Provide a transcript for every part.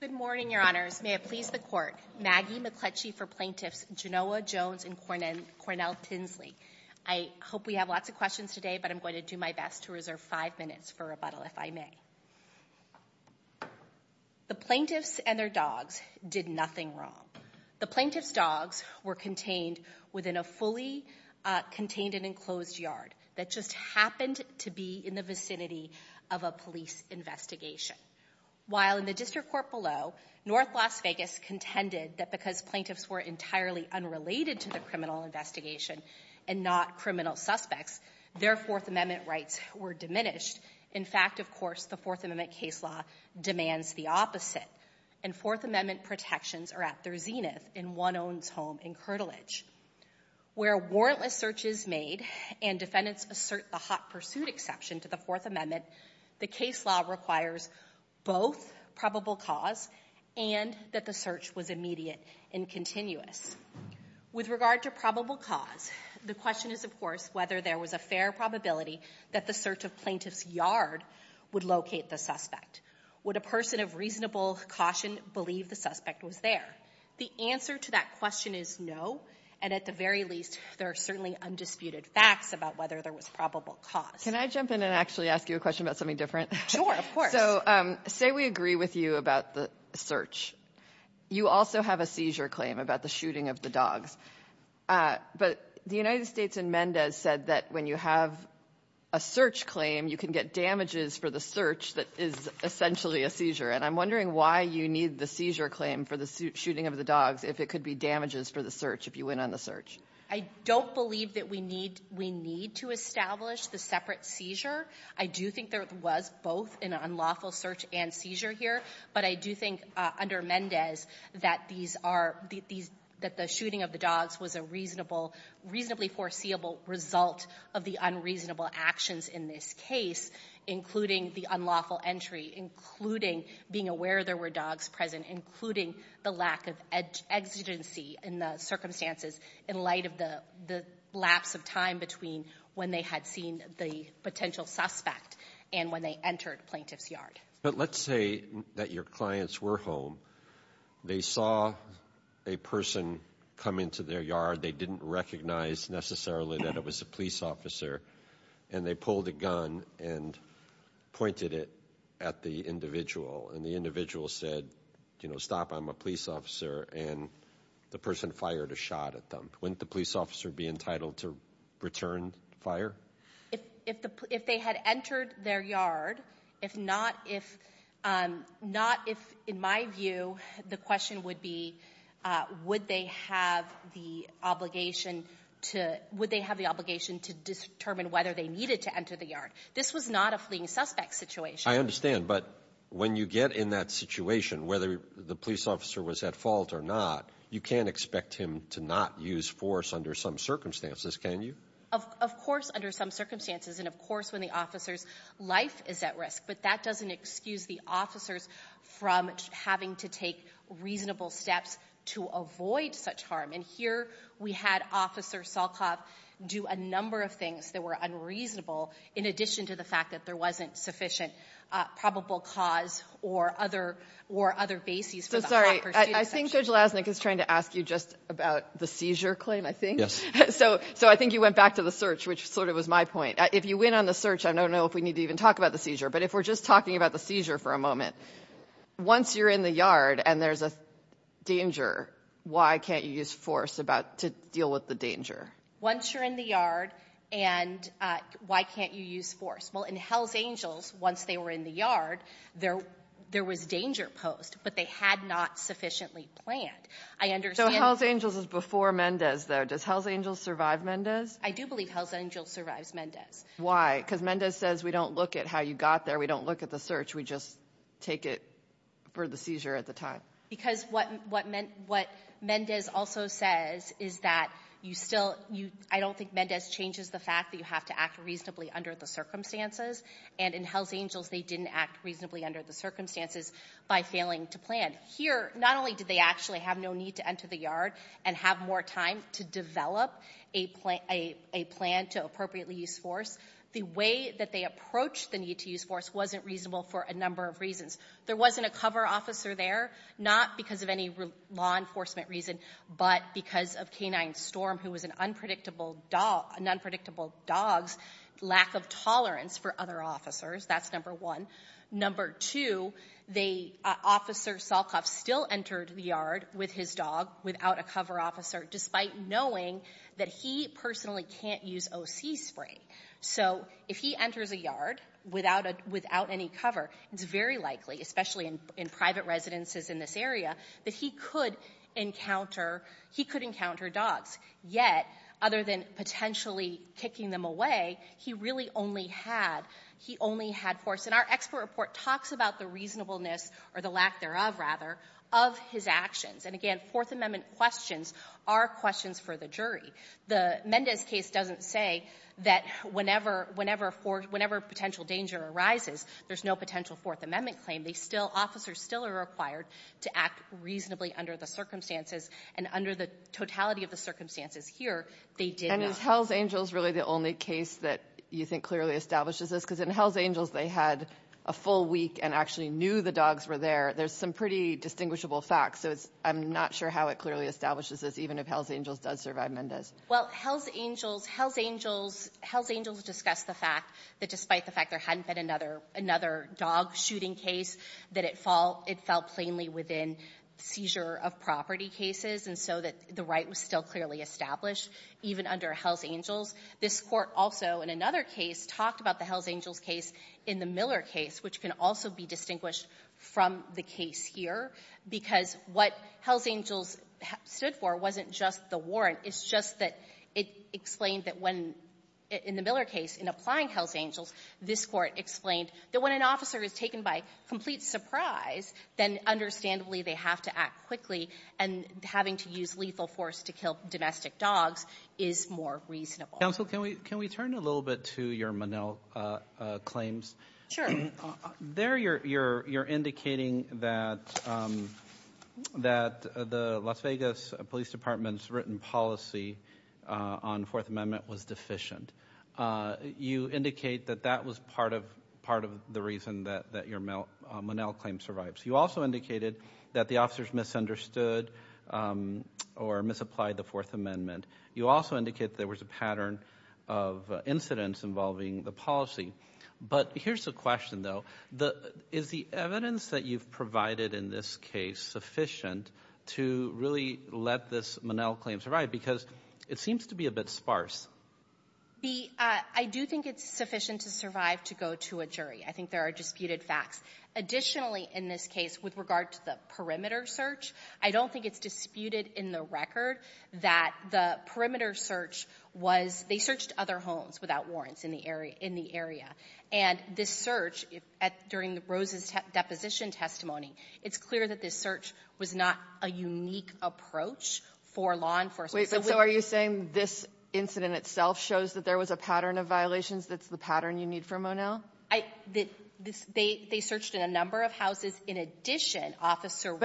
Good morning, your honors. May it please the court. Maggie McCletchie for plaintiffs Genoa Jones and Cornell Tinsley. I hope we have lots of questions today, but I'm going to do my best to reserve five minutes for rebuttal if I may. The plaintiffs and their dogs did nothing wrong. The plaintiffs' dogs were contained within a fully contained and enclosed yard that just happened to be in the vicinity of a police investigation. While in the district court below, North Las Vegas contended that because plaintiffs were entirely unrelated to the criminal investigation and not criminal suspects, their Fourth Amendment rights were diminished. In fact, of course, the Fourth Amendment case law demands the opposite, and Fourth Amendment protections are at their zenith in one's own home in Curtilage. Where warrantless searches made and defendants assert the hot pursuit exception to the Fourth Amendment, the case law requires both probable cause and that the search was immediate and continuous. With regard to probable cause, the question is, of course, whether there was a fair probability that the search of plaintiff's yard would locate the suspect. Would a person of reasonable caution believe the suspect was there? The answer to that question is no, and at the same time, there was probable cause. Kagan. Can I jump in and actually ask you a question about something different? Sure, of course. So say we agree with you about the search. You also have a seizure claim about the shooting of the dogs. But the United States in Mendez said that when you have a search claim, you can get damages for the search that is essentially a seizure. And I'm wondering why you need the seizure claim for the shooting of the dogs if it could be damages for the search, if you went on the search. I don't believe that we need to establish the separate seizure. I do think there was both an unlawful search and seizure here. But I do think under Mendez that these are the — that the shooting of the dogs was a reasonable, reasonably foreseeable result of the unreasonable actions in this case, including the unlawful entry, including being aware there were dogs present, including the lack of exigency in the circumstances in light of the lapse of time between when they had seen the potential suspect and when they entered plaintiff's yard. But let's say that your clients were home. They saw a person come into their yard. They didn't recognize necessarily that it was a police officer. And they pulled a gun and pointed it at the individual. And the individual said, you know, stop, I'm a police officer. And the person fired a shot at them. Wouldn't the police officer be entitled to return fire? If they had entered their yard, if not, if — not if, in my view, the question would be would they have the obligation to — would they have the obligation to determine whether they needed to enter the yard. This was not a fleeing suspect situation. I understand. But when you get in that situation, whether the police officer was at fault or not, you can't expect him to not use force under some circumstances, can you? Of course, under some circumstances. And of course, when the officer's life is at risk. But that doesn't excuse the officers from having to take reasonable steps to avoid such harm. And here we had Officer Salkoff do a number of things that were unreasonable in addition to the fact that there wasn't sufficient probable cause or other bases for the Hawker Student Section. So, sorry, I think Judge Lasnik is trying to ask you just about the seizure claim, I think. Yes. So I think you went back to the search, which sort of was my point. If you went on the search, I don't know if we need to even talk about the seizure. But if we're just talking about the seizure for a moment, once you're in the yard and there's a danger, why can't you use force to deal with the danger? Once you're in the yard, and why can't you use force? Well, in Hells Angels, once they were in the yard, there was danger posed, but they had not sufficiently planned. I understand that. So Hells Angels is before Mendez, though. Does Hells Angels survive Mendez? I do believe Hells Angels survives Mendez. Why? Because Mendez says, we don't look at how you got there, we don't look at the search, we just take it for the seizure at the time. Because what Mendez also says is that you still, I don't think Mendez changes the fact that you have to act reasonably under the circumstances. And in Hells Angels, they didn't act reasonably under the circumstances by failing to plan. Here, not only did they actually have no need to enter the yard and have more time to develop a plan to appropriately use force, the way that they approached the need to use force wasn't reasonable for a number of reasons. There wasn't a cover officer there, not because of any law enforcement reason, but because of K-9 Storm, who was an unpredictable dog's lack of tolerance for other officers. That's number one. Number two, Officer Salkoff still entered the yard with his dog, without a cover officer, despite knowing that he personally can't use OC spray. So if he enters a yard without any cover, it's very likely, especially in private residences in this area, that he could encounter dogs. Yet, other than potentially kicking them away, he really only had force. And our expert report talks about the reasonableness, or the lack thereof, rather, of his actions. And again, Fourth Amendment questions are questions for the jury. The Mendez case doesn't say that whenever potential danger arises, there's no potential Fourth Amendment claim. Officers still are required to act reasonably under the circumstances. And under the totality of the circumstances here, they did not. And is Hells Angels really the only case that you think clearly establishes this? Because in Hells Angels, they had a full week and actually knew the dogs were there. There's some pretty distinguishable facts. So I'm not sure how it clearly establishes this, even if Hells Angels does survive Mendez. Well, Hells Angels, Hells Angels, Hells Angels discussed the fact that despite the fact there hadn't been another dog shooting case, that it fell plainly within seizure-of-property cases, and so that the right was still clearly established even under Hells Angels. This Court also, in another case, talked about the Hells Angels case in the Miller case, which can also be distinguished from the case here, because what Hells Angels stood for wasn't just the warrant. It's just that it explained that when, in the Miller case, in applying Hells Angels, this Court explained that when an officer is taken by complete surprise, then understandably they have to act quickly, and having to use lethal force to kill domestic dogs is more reasonable. Counsel, can we turn a little bit to your Monell claims? Sure. There, you're indicating that the Las Vegas Police Department's written policy on the Fourth Amendment was deficient. You indicate that that was part of the reason that your Monell claim survives. You also indicated that the officers misunderstood or misapplied the Fourth Amendment. You also indicate there was a pattern of incidents involving the policy. But here's the question, though. Is the evidence that you've provided in this case sufficient to really let this Monell claim survive? Because it seems to be a bit sparse. I do think it's sufficient to survive to go to a jury. I think there are disputed facts. Additionally, in this case, with regard to the perimeter search, I don't think it's disputed in the record that the perimeter search was they searched other homes without warrants in the area, in the area. And this search, during Rose's deposition testimony, it's clear that this search was not a unique approach for law enforcement. But so are you saying this incident itself shows that there was a pattern of violations that's the pattern you need for Monell? I think they searched in a number of houses. In addition, Officer Rose ----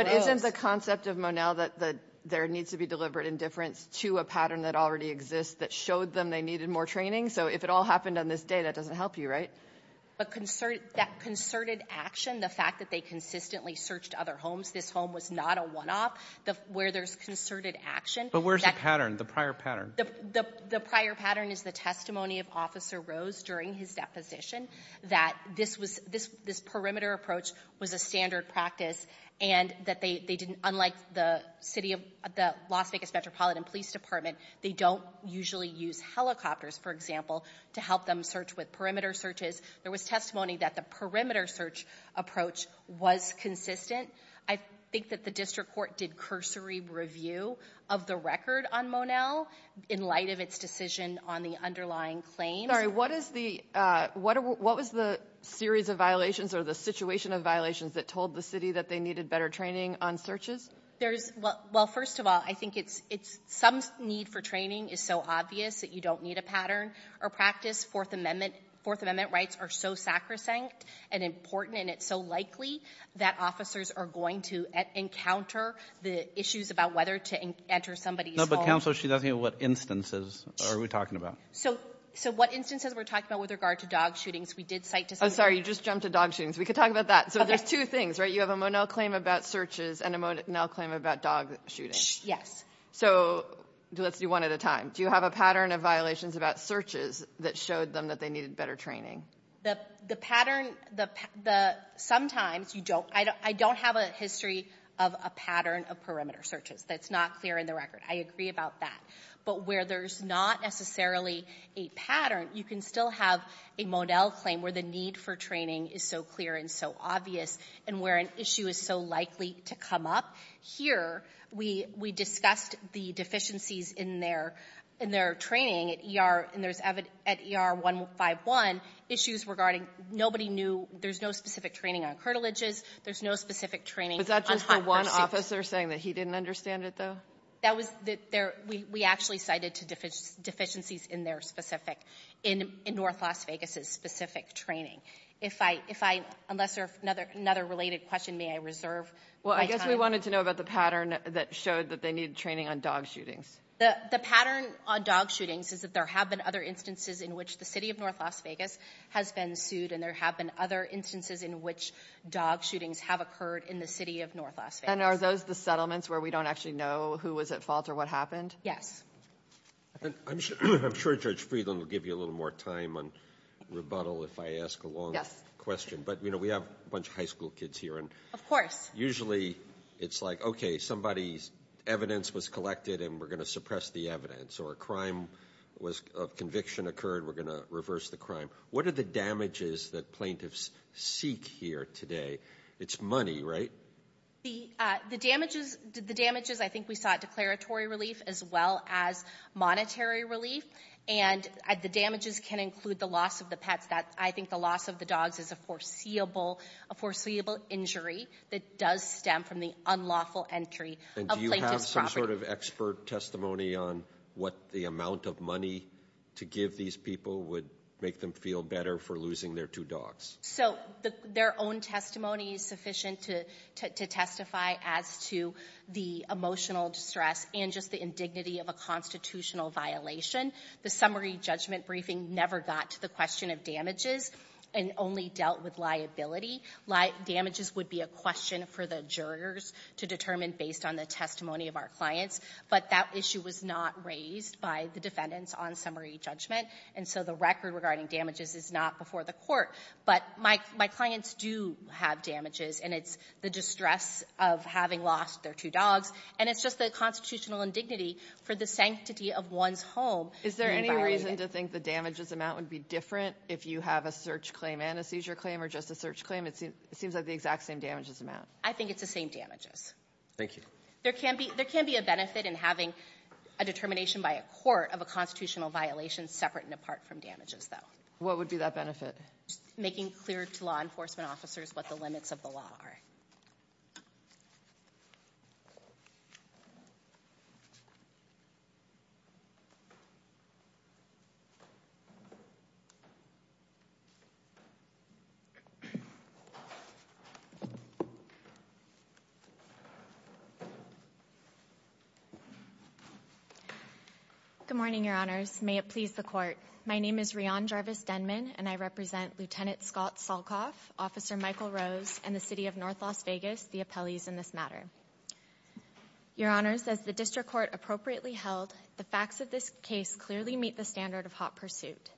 There needs to be deliberate indifference to a pattern that already exists that showed them they needed more training. So if it all happened on this day, that doesn't help you, right? But that concerted action, the fact that they consistently searched other homes, this home was not a one-off. Where there's concerted action ---- But where's the pattern, the prior pattern? The prior pattern is the testimony of Officer Rose during his deposition that this was this perimeter approach was a standard practice and that they didn't, unlike the city of the Las Vegas Metropolitan Police Department, they don't usually use helicopters, for example, to help them search with perimeter searches. There was testimony that the perimeter search approach was consistent. I think that the district court did cursory review of the record on Monell in light of its decision on the underlying claims. Sorry, what is the, what was the series of violations or the situation of violations that told the city that they needed better training on searches? There's, well, first of all, I think it's, it's, some need for training is so obvious that you don't need a pattern or practice. Fourth Amendment, Fourth Amendment rights are so sacrosanct and important, and it's so likely that officers are going to encounter the issues about whether to enter somebody's home. No, but counsel, she doesn't know what instances are we talking about. So, so what instances we're talking about with regard to dog shootings? We did cite to somebody. I'm sorry, you just jumped to dog shootings. We could talk about that. So there's two things, right? You have a Monell claim about searches and a Monell claim about dog shootings. Yes. So, let's do one at a time. Do you have a pattern of violations about searches that showed them that they needed better training? The, the pattern, the, the, sometimes you don't, I don't, I don't have a history of a pattern of perimeter searches that's not clear in the record. I agree about that. But where there's not necessarily a pattern, you can still have a Monell claim where the need for training is so clear and so obvious, and where an issue is so likely to come up. Here, we, we discussed the deficiencies in their, in their training at ER, and there's evident, at ER 151, issues regarding, nobody knew, there's no specific training on curtilages. There's no specific training on hot pursuits. Was that just the one officer saying that he didn't understand it, though? That was the, there, we, we actually cited to deficiencies in their specific, in, in North Las Vegas's specific training. If I, if I, unless there's another, another related question, may I reserve my time? Well, I guess we wanted to know about the pattern that showed that they needed training on dog shootings. The, the pattern on dog shootings is that there have been other instances in which the city of North Las Vegas has been sued, and there have been other instances in which dog shootings have occurred in the city of North Las Vegas. And are those the settlements where we don't actually know who was at fault or what happened? Yes. And I'm sure, I'm sure Judge Friedland will give you a little more time on rebuttal if I ask a long question. But, you know, we have a bunch of high school kids here and- Usually, it's like, okay, somebody's evidence was collected and we're going to suppress the evidence. Or a crime was, a conviction occurred, we're going to reverse the crime. What are the damages that plaintiffs seek here today? It's money, right? The, the damages, the damages, I think we saw at declaratory relief as well as monetary relief. And the damages can include the loss of the pets that, I think the loss of the dogs is a foreseeable, a foreseeable injury that does stem from the unlawful entry of plaintiff's property. And do you have some sort of expert testimony on what the amount of money to give these people would make them feel better for losing their two dogs? So, their own testimony is sufficient to, to testify as to the emotional distress and just the indignity of a constitutional violation. The summary judgment briefing never got to the question of damages and only dealt with liability. Damages would be a question for the jurors to determine based on the testimony of our clients. But that issue was not raised by the defendants on summary judgment. And so the record regarding damages is not before the court. But my, my clients do have damages, and it's the distress of having lost their two dogs. And it's just the constitutional indignity for the sanctity of one's home. Is there any reason to think the damages amount would be different if you have a search claim and a seizure claim or just a search claim? It seems like the exact same damages amount. I think it's the same damages. Thank you. There can be, there can be a benefit in having a determination by a court of a constitutional violation separate and apart from damages, though. What would be that benefit? Making clear to law enforcement officers what the limits of the law are. Good morning, your honors. May it please the court. My name is Rion Jarvis Denman, and I represent Lieutenant Scott Salkoff, Officer Michael Rose, and the city of North Las Vegas, the appellees in this matter. Your honors, as the district court appropriately held, the facts of this case clearly meet the standard of hot pursuit.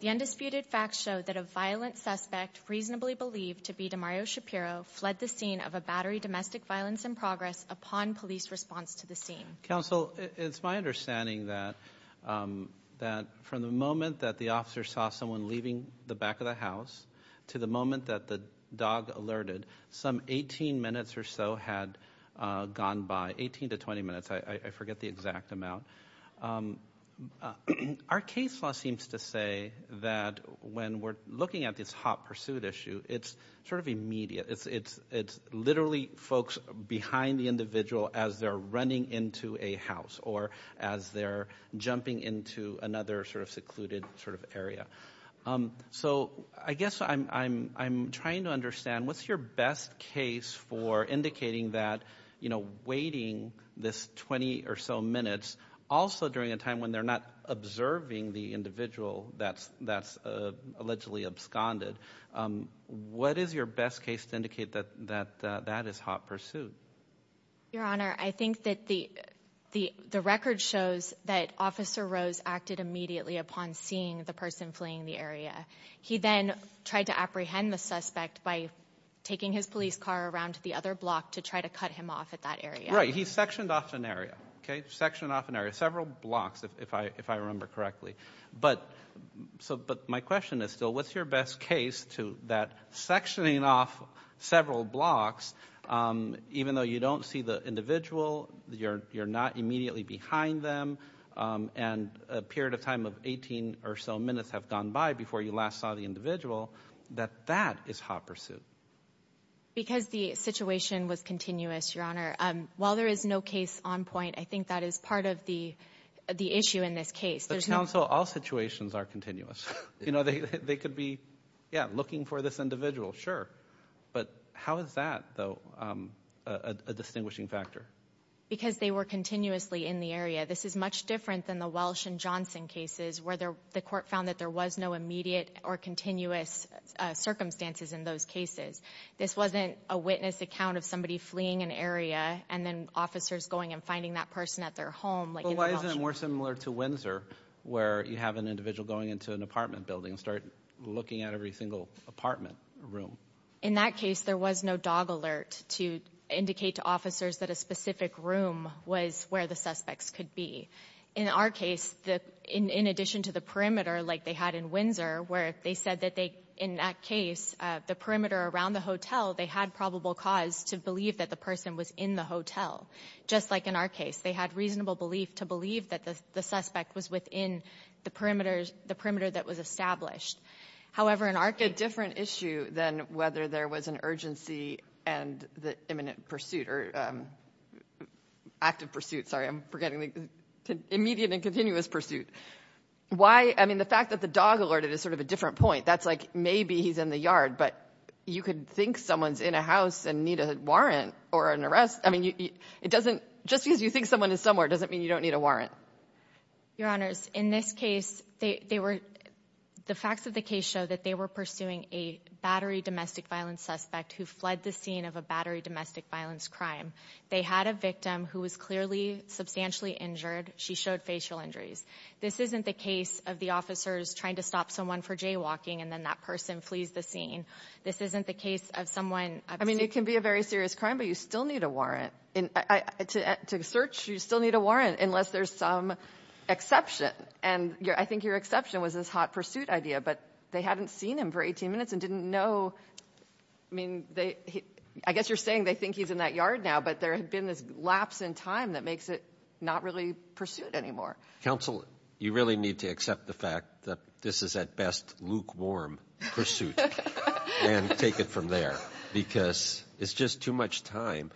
The undisputed facts show that a violent suspect, reasonably believed to be Demario Shapiro, fled the scene of a battery domestic violence in progress upon police response to the scene. Counsel, it's my understanding that from the moment that the officer saw someone leaving the back of the house, to the moment that the dog alerted, some 18 minutes or so had gone by. 18 to 20 minutes, I forget the exact amount. Our case law seems to say that when we're looking at this hot pursuit issue, it's sort of immediate. It's literally folks behind the individual as they're running into a house, or as they're jumping into another sort of secluded sort of area. So I guess I'm trying to understand, what's your best case for indicating that waiting this 20 or so minutes, also during a time when they're not observing the individual that's allegedly absconded. What is your best case to indicate that that is hot pursuit? Your Honor, I think that the record shows that Officer Rose acted immediately upon seeing the person fleeing the area. He then tried to apprehend the suspect by taking his police car around to the other block to try to cut him off at that area. Right, he sectioned off an area, okay, sectioned off an area, several blocks if I remember correctly. But my question is still, what's your best case to that sectioning off several blocks, even though you don't see the individual, you're not immediately behind them, and a period of time of 18 or so minutes have gone by before you last saw the individual, that that is hot pursuit? Because the situation was continuous, Your Honor. While there is no case on point, I think that is part of the issue in this case. The council, all situations are continuous. You know, they could be, yeah, looking for this individual, sure. But how is that, though, a distinguishing factor? Because they were continuously in the area. This is much different than the Welsh and Johnson cases, where the court found that there was no immediate or continuous circumstances in those cases. This wasn't a witness account of somebody fleeing an area and then officers going and finding that person at their home. Why isn't it more similar to Windsor, where you have an individual going into an apartment building and start looking at every single apartment room? In that case, there was no dog alert to indicate to officers that a specific room was where the suspects could be. In our case, in addition to the perimeter, like they had in Windsor, where they said that they, in that case, the perimeter around the hotel, they had probable cause to believe that the person was in the hotel. Just like in our case, they had reasonable belief to believe that the suspect was within the perimeter that was established. However, in our case- A different issue than whether there was an urgency and the imminent pursuit, or active pursuit, sorry, I'm forgetting, immediate and continuous pursuit. Why, I mean, the fact that the dog alerted is sort of a different point. That's like, maybe he's in the yard, but you could think someone's in a house and need a warrant or an arrest. It doesn't, just because you think someone is somewhere doesn't mean you don't need a warrant. Your Honors, in this case, they were, the facts of the case show that they were pursuing a battery domestic violence suspect who fled the scene of a battery domestic violence crime. They had a victim who was clearly substantially injured. She showed facial injuries. This isn't the case of the officers trying to stop someone for jaywalking and then that person flees the scene. This isn't the case of someone- It can be a very serious crime, but you still need a warrant. To search, you still need a warrant unless there's some exception. I think your exception was this hot pursuit idea, but they hadn't seen him for 18 minutes and didn't know. I guess you're saying they think he's in that yard now, but there had been this lapse in time that makes it not really pursuit anymore. Counsel, you really need to accept the fact that this is at best lukewarm pursuit and take it from there because it's just too much time.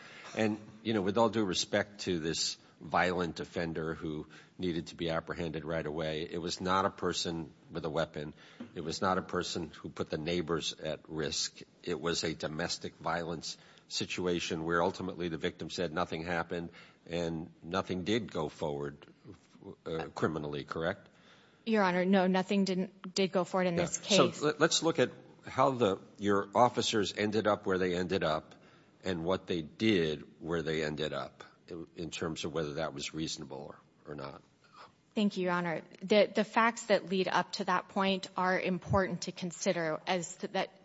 With all due respect to this violent offender who needed to be apprehended right away, it was not a person with a weapon. It was not a person who put the neighbors at risk. It was a domestic violence situation where ultimately the victim said nothing happened and nothing did go forward criminally, correct? Your Honor, no, nothing did go forward in this case. Let's look at how your officers ended up where they ended up and what they did where they ended up in terms of whether that was reasonable or not. Thank you, Your Honor. The facts that lead up to that point are important to consider as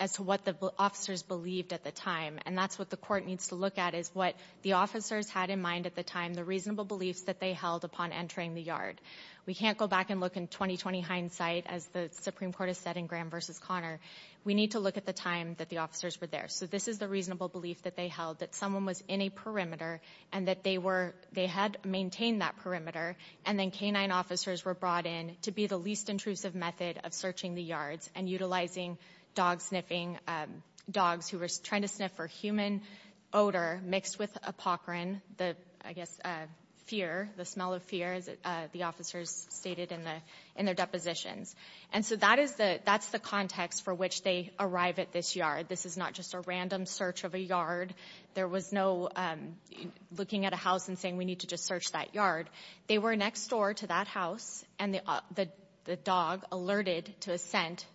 to what the officers believed at the time, and that's what the court needs to look at is what the officers had in mind at the time, the reasonable beliefs that they held upon entering the yard. We can't go back and look in 20-20 hindsight as the Supreme Court has said in Graham v. Connor. We need to look at the time that the officers were there. So this is the reasonable belief that they held that someone was in a perimeter and that they had maintained that perimeter and then canine officers were brought in to be the least intrusive method of searching the yards and utilizing dog sniffing, dogs who were trying to sniff for human odor mixed with apocrine, the, I guess, fear, the smell of fear as the officers stated in their depositions. And so that's the context for which they arrive at this yard. This is not just a random search of a yard. There was no looking at a house and saying, we need to just search that yard. They were next door to that house and the dog alerted to a scent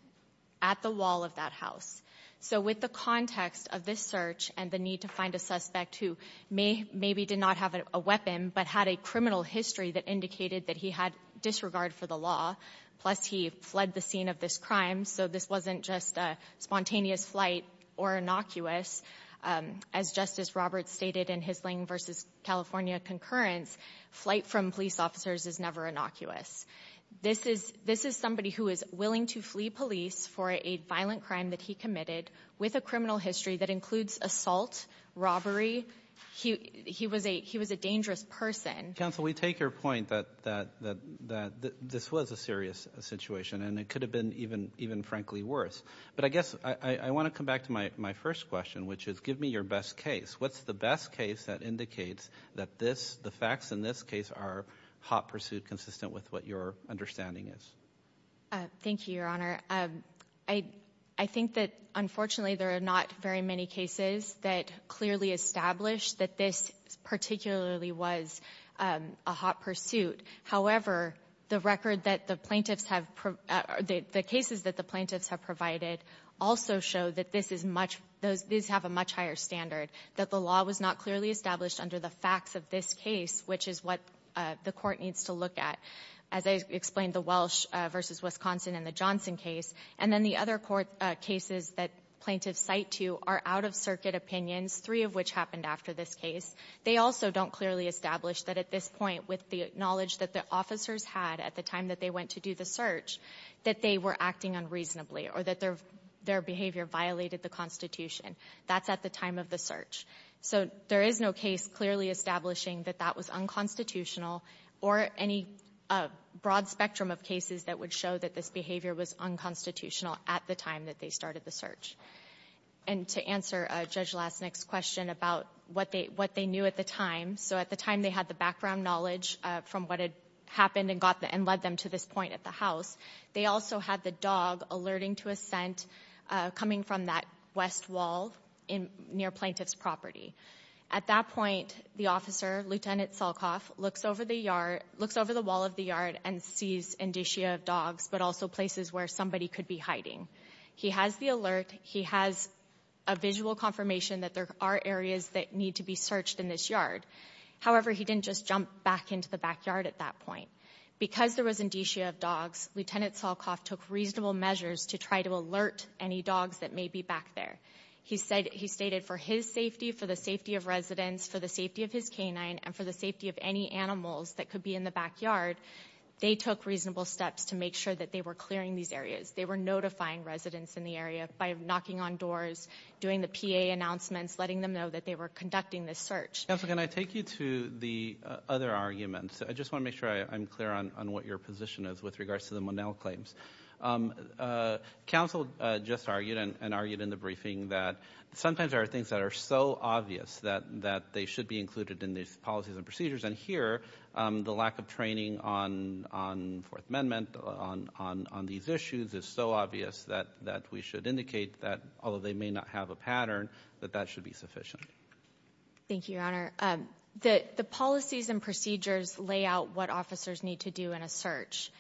at the wall of that house. So with the context of this search and the need to find a suspect who may, maybe did not have a weapon, but had a criminal history that indicated that he had disregard for the law, plus he fled the scene of this crime. So this wasn't just a spontaneous flight or innocuous. As Justice Roberts stated in his Lang v. California concurrence, flight from police officers is never innocuous. This is somebody who is willing to flee police for a violent crime that he committed with a criminal history that includes assault, robbery. He was a dangerous person. Counsel, we take your point that this was a serious situation and it could have been even frankly worse. But I guess I want to come back to my first question, which is give me your best case. What's the best case that indicates that this, the facts in this case are hot pursuit consistent with what your understanding is? Thank you, Your Honor. I think that, unfortunately, there are not very many cases that clearly establish that this particularly was a hot pursuit. However, the record that the plaintiffs have, the cases that the plaintiffs have provided also show that this is much, those have a much higher standard, that the law was not clearly established under the facts of this case, which is what the court needs to look at. As I explained, the Welsh versus Wisconsin and the Johnson case, and then the other court cases that plaintiffs cite to are out-of-circuit opinions, three of which happened after this case. They also don't clearly establish that at this point, with the knowledge that the officers had at the time that they went to do the search, that they were acting unreasonably or that their behavior violated the Constitution. That's at the time of the search. So there is no case clearly establishing that that was unconstitutional or any broad spectrum of cases that would show that this behavior was unconstitutional at the time that they started the search. And to answer Judge Lasnik's question about what they knew at the time, so at the time they had the background knowledge from what had happened and led them to this point at the house, they also had the dog alerting to a scent coming from that west wall near plaintiff's property. At that point, the officer, Lieutenant Salkoff, looks over the wall of the yard and sees indicia of dogs, but also places where somebody could be hiding. He has the alert. He has a visual confirmation that there are areas that need to be searched in this yard. However, he didn't just jump back into the backyard at that point. Because there was indicia of dogs, Lieutenant Salkoff took reasonable measures to try to alert any dogs that may be back there. He stated for his safety, for the safety of residents, for the safety of his canine, and for the safety of any animals that could be in the backyard, they took reasonable steps to make sure that they were clearing these areas. They were notifying residents in the area by knocking on doors, doing the PA announcements, letting them know that they were conducting this search. Counsel, can I take you to the other arguments? I just want to make sure I'm clear on what your position is with regards to the Monell claims. Um, uh, counsel, uh, just argued and argued in the briefing that sometimes there are things that are so obvious that, that they should be included in these policies and procedures. And here, um, the lack of training on, on Fourth Amendment, on, on, on these issues is so obvious that, that we should indicate that although they may not have a pattern, that that should be sufficient. Thank you, Your Honor. Um, the, the policies and procedures lay out what officers need to do in a search.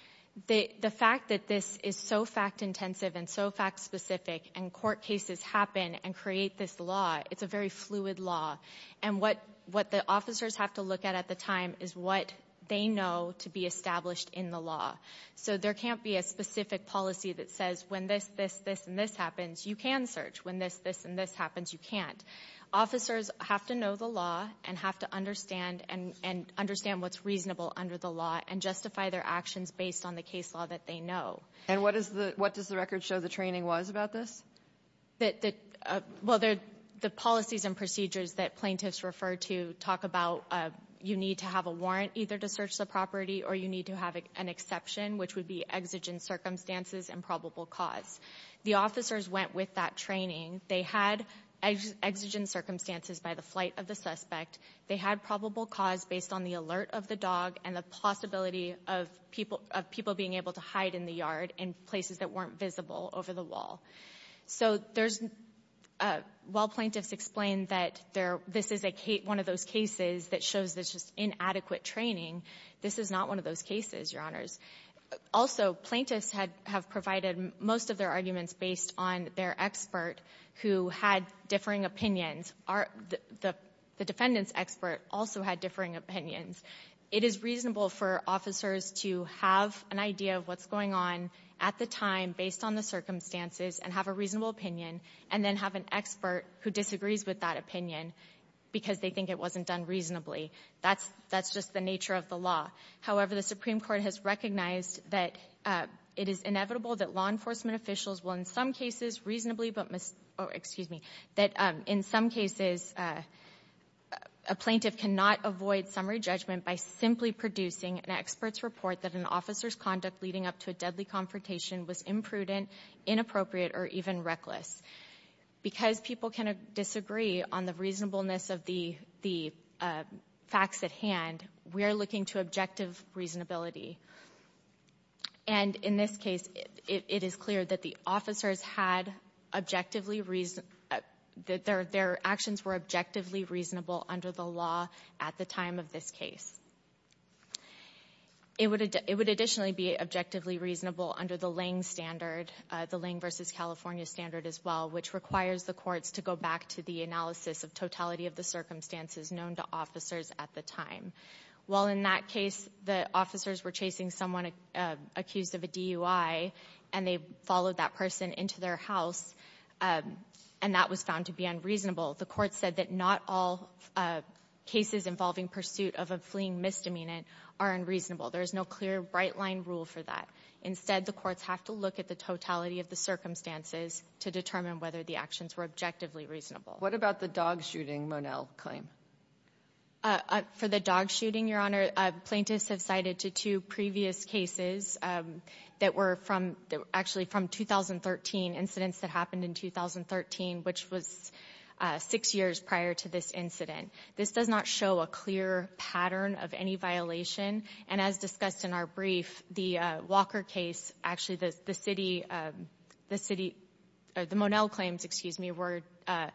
The, the fact that this is so fact intensive and so fact specific and court cases happen and create this law, it's a very fluid law. And what, what the officers have to look at at the time is what they know to be established in the law. So there can't be a specific policy that says when this, this, this, and this happens, you can search. When this, this, and this happens, you can't. Officers have to know the law and have to understand and, and understand what's reasonable under the law and justify their actions based on the case law that they know. And what is the, what does the record show the training was about this? That, that, uh, well, there, the policies and procedures that plaintiffs refer to talk about, uh, you need to have a warrant either to search the property or you need to have an exception, which would be exigent circumstances and probable cause. The officers went with that training. They had exigent circumstances by the flight of the suspect. They had probable cause based on the alert of the dog and the possibility of people, of people being able to hide in the yard in places that weren't visible over the wall. So there's, uh, while plaintiffs explain that there, this is a case, one of those cases that shows this is inadequate training, this is not one of those cases, Your Honors. Also, plaintiffs had, have provided most of their arguments based on their expert who had differing opinions. Our, the, the defendant's expert also had differing opinions. It is reasonable for officers to have an idea of what's going on at the time based on the circumstances and have a reasonable opinion and then have an expert who disagrees with that opinion because they think it wasn't done reasonably. That's, that's just the nature of the law. However, the Supreme Court has recognized that, uh, it is inevitable that law enforcement officials will, in some cases, reasonably, but mis, oh, excuse me, that, um, in some cases, uh, a plaintiff cannot avoid summary judgment by simply producing an expert's report that an officer's conduct leading up to a deadly confrontation was imprudent, inappropriate, or even reckless. Because people can disagree on the reasonableness of the, the, uh, facts at hand, we are looking to objective reasonability. And in this case, it, it is clear that the officers had objectively reason, that their, their actions were objectively reasonable under the law at the time of this case. It would, it would additionally be objectively reasonable under the Lange standard, the Lange versus California standard as well, which requires the courts to go back to the analysis of totality of the circumstances known to officers at the time. While in that case, the officers were chasing someone accused of a DUI and they followed that person into their house, um, and that was found to be unreasonable, the court said that not all, uh, cases involving pursuit of a fleeing misdemeanant are unreasonable. There is no clear bright line rule for that. Instead, the courts have to look at the totality of the circumstances to determine whether the actions were objectively reasonable. What about the dog shooting, Monel, claim? Uh, uh, for the dog shooting, Your Honor, plaintiffs have cited to two previous cases, um, that were from, actually from 2013, incidents that happened in 2013, which was, uh, six years prior to this incident. This does not show a clear pattern of any violation and as discussed in our brief, the, uh, Walker case, actually the, the city, um, the city, uh, the Monel claims, excuse me, were, uh,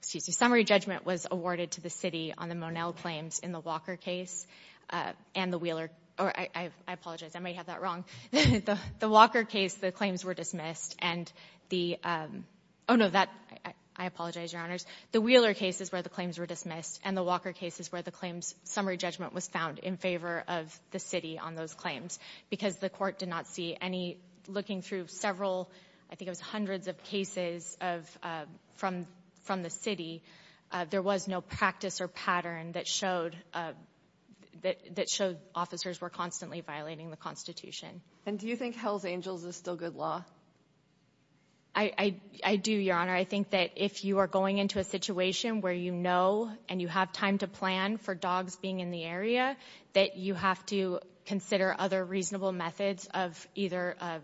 excuse me, summary judgment was awarded to the city on the Monel claims in the Walker case, uh, and the Wheeler, or I, I apologize, I might have that wrong. The Walker case, the claims were dismissed and the, um, oh, no, that, I, I apologize, Your Honors. The Wheeler case is where the claims were dismissed and the Walker case is where the claims summary judgment was found in favor of the city on those claims because the court did not see any looking through several, I think it was hundreds of cases of, uh, from, from the city. There was no practice or pattern that showed, uh, that showed officers were constantly violating the Constitution. And do you think Hell's Angels is still good law? I, I, I do, Your Honor. I think that if you are going into a situation where you know and you have time to plan for dogs being in the area, that you have to consider other reasonable methods of either, uh,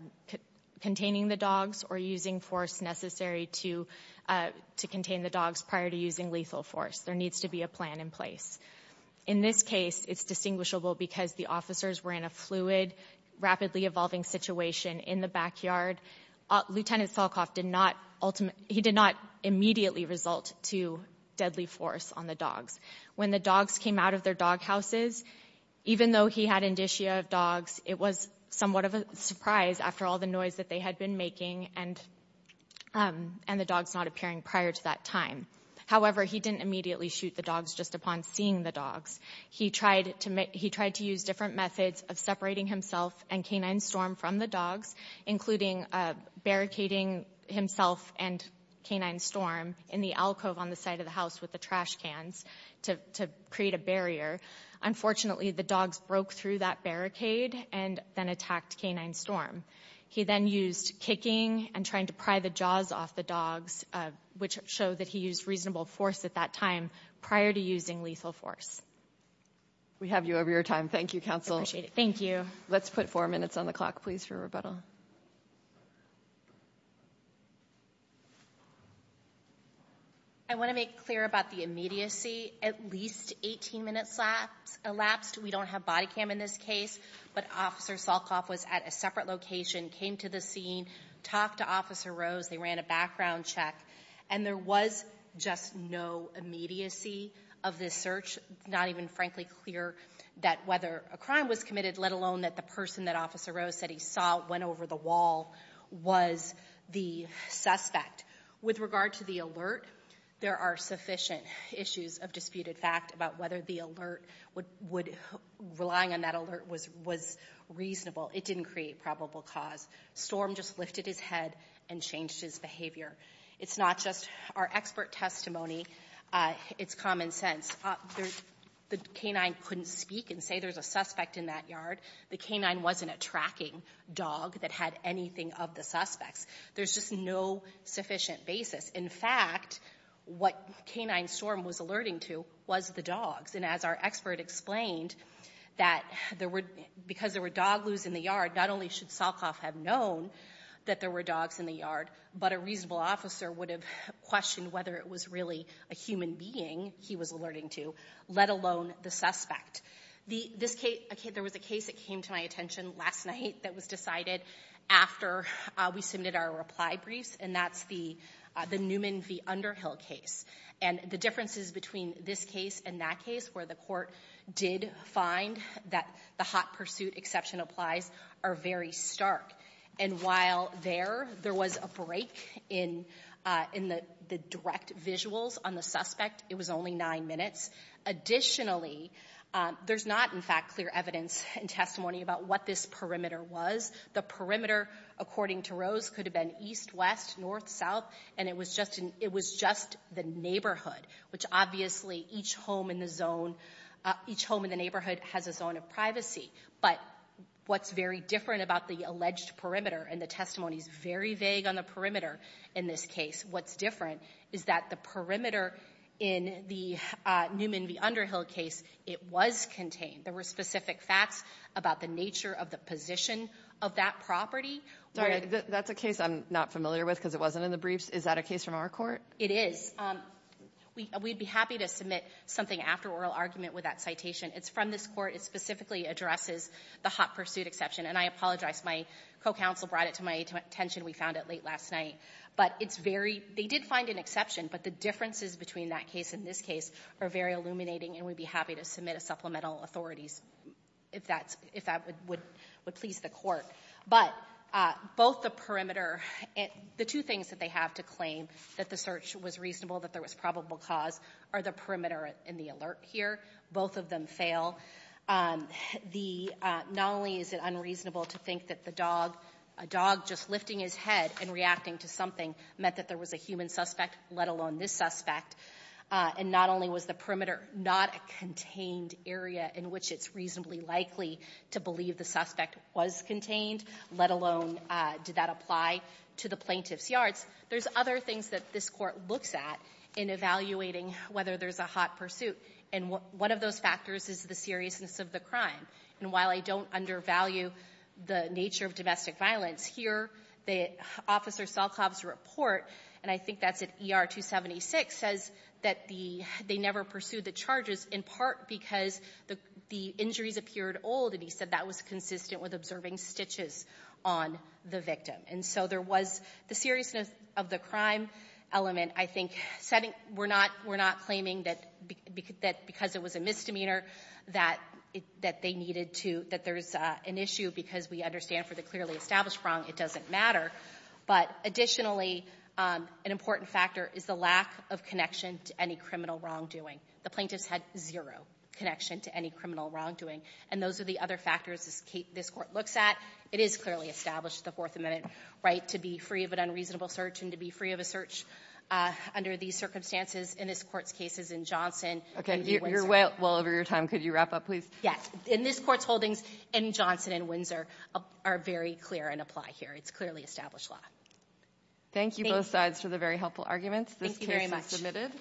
containing the dogs or using force necessary to, uh, to contain the dogs prior to using lethal force. There needs to be a plan in place. In this case, it's distinguishable because the officers were in a fluid, rapidly evolving situation in the backyard. Lieutenant Falcoff did not ultimately, he did not immediately result to deadly force on the dogs. When the dogs came out of their dog houses, even though he had indicia of dogs, it was somewhat of a surprise after all the noise that they had been making and, um, and the dogs not appearing prior to that time. However, he didn't immediately shoot the dogs just upon seeing the dogs. He tried to make, he tried to use different methods of separating himself and canine storm from the dogs, including, uh, barricading himself and canine storm in the alcove on the side of the house with the trash cans to, to create a barrier. Unfortunately, the dogs broke through that barricade and then attacked canine storm. He then used kicking and trying to pry the jaws off the dogs, uh, which showed that he used reasonable force at that time prior to using lethal force. We have you over your time. Thank you, counsel. I appreciate it. Thank you. Let's put four minutes on the clock, please, for rebuttal. I want to make clear about the immediacy. At least 18 minutes lapsed, elapsed. We don't have body cam in this case, but officer Salkoff was at a separate location, came to the scene, talked to officer Rose. They ran a background check and there was just no immediacy of this search, not even frankly clear that whether a crime was committed, let alone that the person that officer Rose said he saw went over the wall was the suspect. With regard to the alert, there are sufficient issues of disputed fact about whether the alert would, would, relying on that alert was, was reasonable. It didn't create probable cause. Storm just lifted his head and changed his behavior. It's not just our expert testimony. Uh, it's common sense. There, the canine couldn't speak and say there's a suspect in that yard. The canine wasn't a tracking dog that had anything of the suspects. There's just no sufficient basis. In fact, what canine Storm was alerting to was the dogs. And as our expert explained, that there were, because there were dog loos in the yard, not only should Salkoff have known that there were dogs in the yard, but a reasonable officer would have questioned whether it was really a human being he was alerting to, let alone the suspect. The, this case, there was a case that came to my attention last night that was decided after we submitted our reply briefs, and that's the, the Newman v. Underhill case. And the differences between this case and that case where the court did find that the hot pursuit exception applies are very stark. And while there, there was a break in, uh, in the, the direct visuals on the suspect, it was only nine minutes. Additionally, um, there's not, in fact, clear evidence and testimony about what this perimeter was. The perimeter, according to Rose, could have been east, west, north, south, and it was just an, it was just the neighborhood, which obviously each home in the zone, uh, each home in the neighborhood has a zone of privacy. But what's very different about the alleged perimeter, and the testimony's very vague on the perimeter in this case, what's different is that the perimeter in the, uh, Newman v. Underhill case, it was contained. There were specific facts about the nature of the position of that property. Kagan. That's a case I'm not familiar with because it wasn't in the briefs. Is that a case from our court? It is. Um, we, we'd be happy to submit something after oral argument with that citation. It's from this court. It specifically addresses the hot pursuit exception. And I apologize. My co-counsel brought it to my attention. We found it late last night. But it's very, they did find an exception, but the differences between that case and this case are very illuminating and we'd be happy to submit a supplemental authorities if that's, if that would, would, would please the court. But, uh, both the perimeter and the two things that they have to claim that the search was reasonable, that there was probable cause are the perimeter and the alert here. Both of them fail. Um, the, uh, not only is it unreasonable to think that the dog, a dog just lifting his head and reacting to something meant that there was a human suspect, let alone this suspect, uh, and not only was the perimeter, not a contained area in which it's reasonably likely to believe the suspect was contained, let alone, uh, did that apply to the plaintiff's There's other things that this court looks at in evaluating whether there's a hot pursuit. And one of those factors is the seriousness of the crime. And while I don't undervalue the nature of domestic violence here, the officer Solkov's report, and I think that's at ER 276, says that the, they never pursued the charges in part because the, the injuries appeared old. And he said that was consistent with observing stitches on the victim. And so there was the seriousness of the crime element. I think setting, we're not, we're not claiming that because it was a misdemeanor that it, that they needed to, that there's, uh, an issue because we understand for the clearly established wrong, it doesn't matter. But additionally, um, an important factor is the lack of connection to any criminal wrongdoing. The plaintiffs had zero connection to any criminal wrongdoing. And those are the other factors this case, this court looks at. It is clearly established, the Fourth Amendment right to be free of an unreasonable search and to be free of a search, uh, under these circumstances. In this Court's case, as in Johnson. Okay, you're way well over your time. Could you wrap up please? Yes. In this Court's holdings, in Johnson and Windsor are very clear and apply here. It's clearly established law. Thank you both sides for the very helpful arguments. This case is submitted.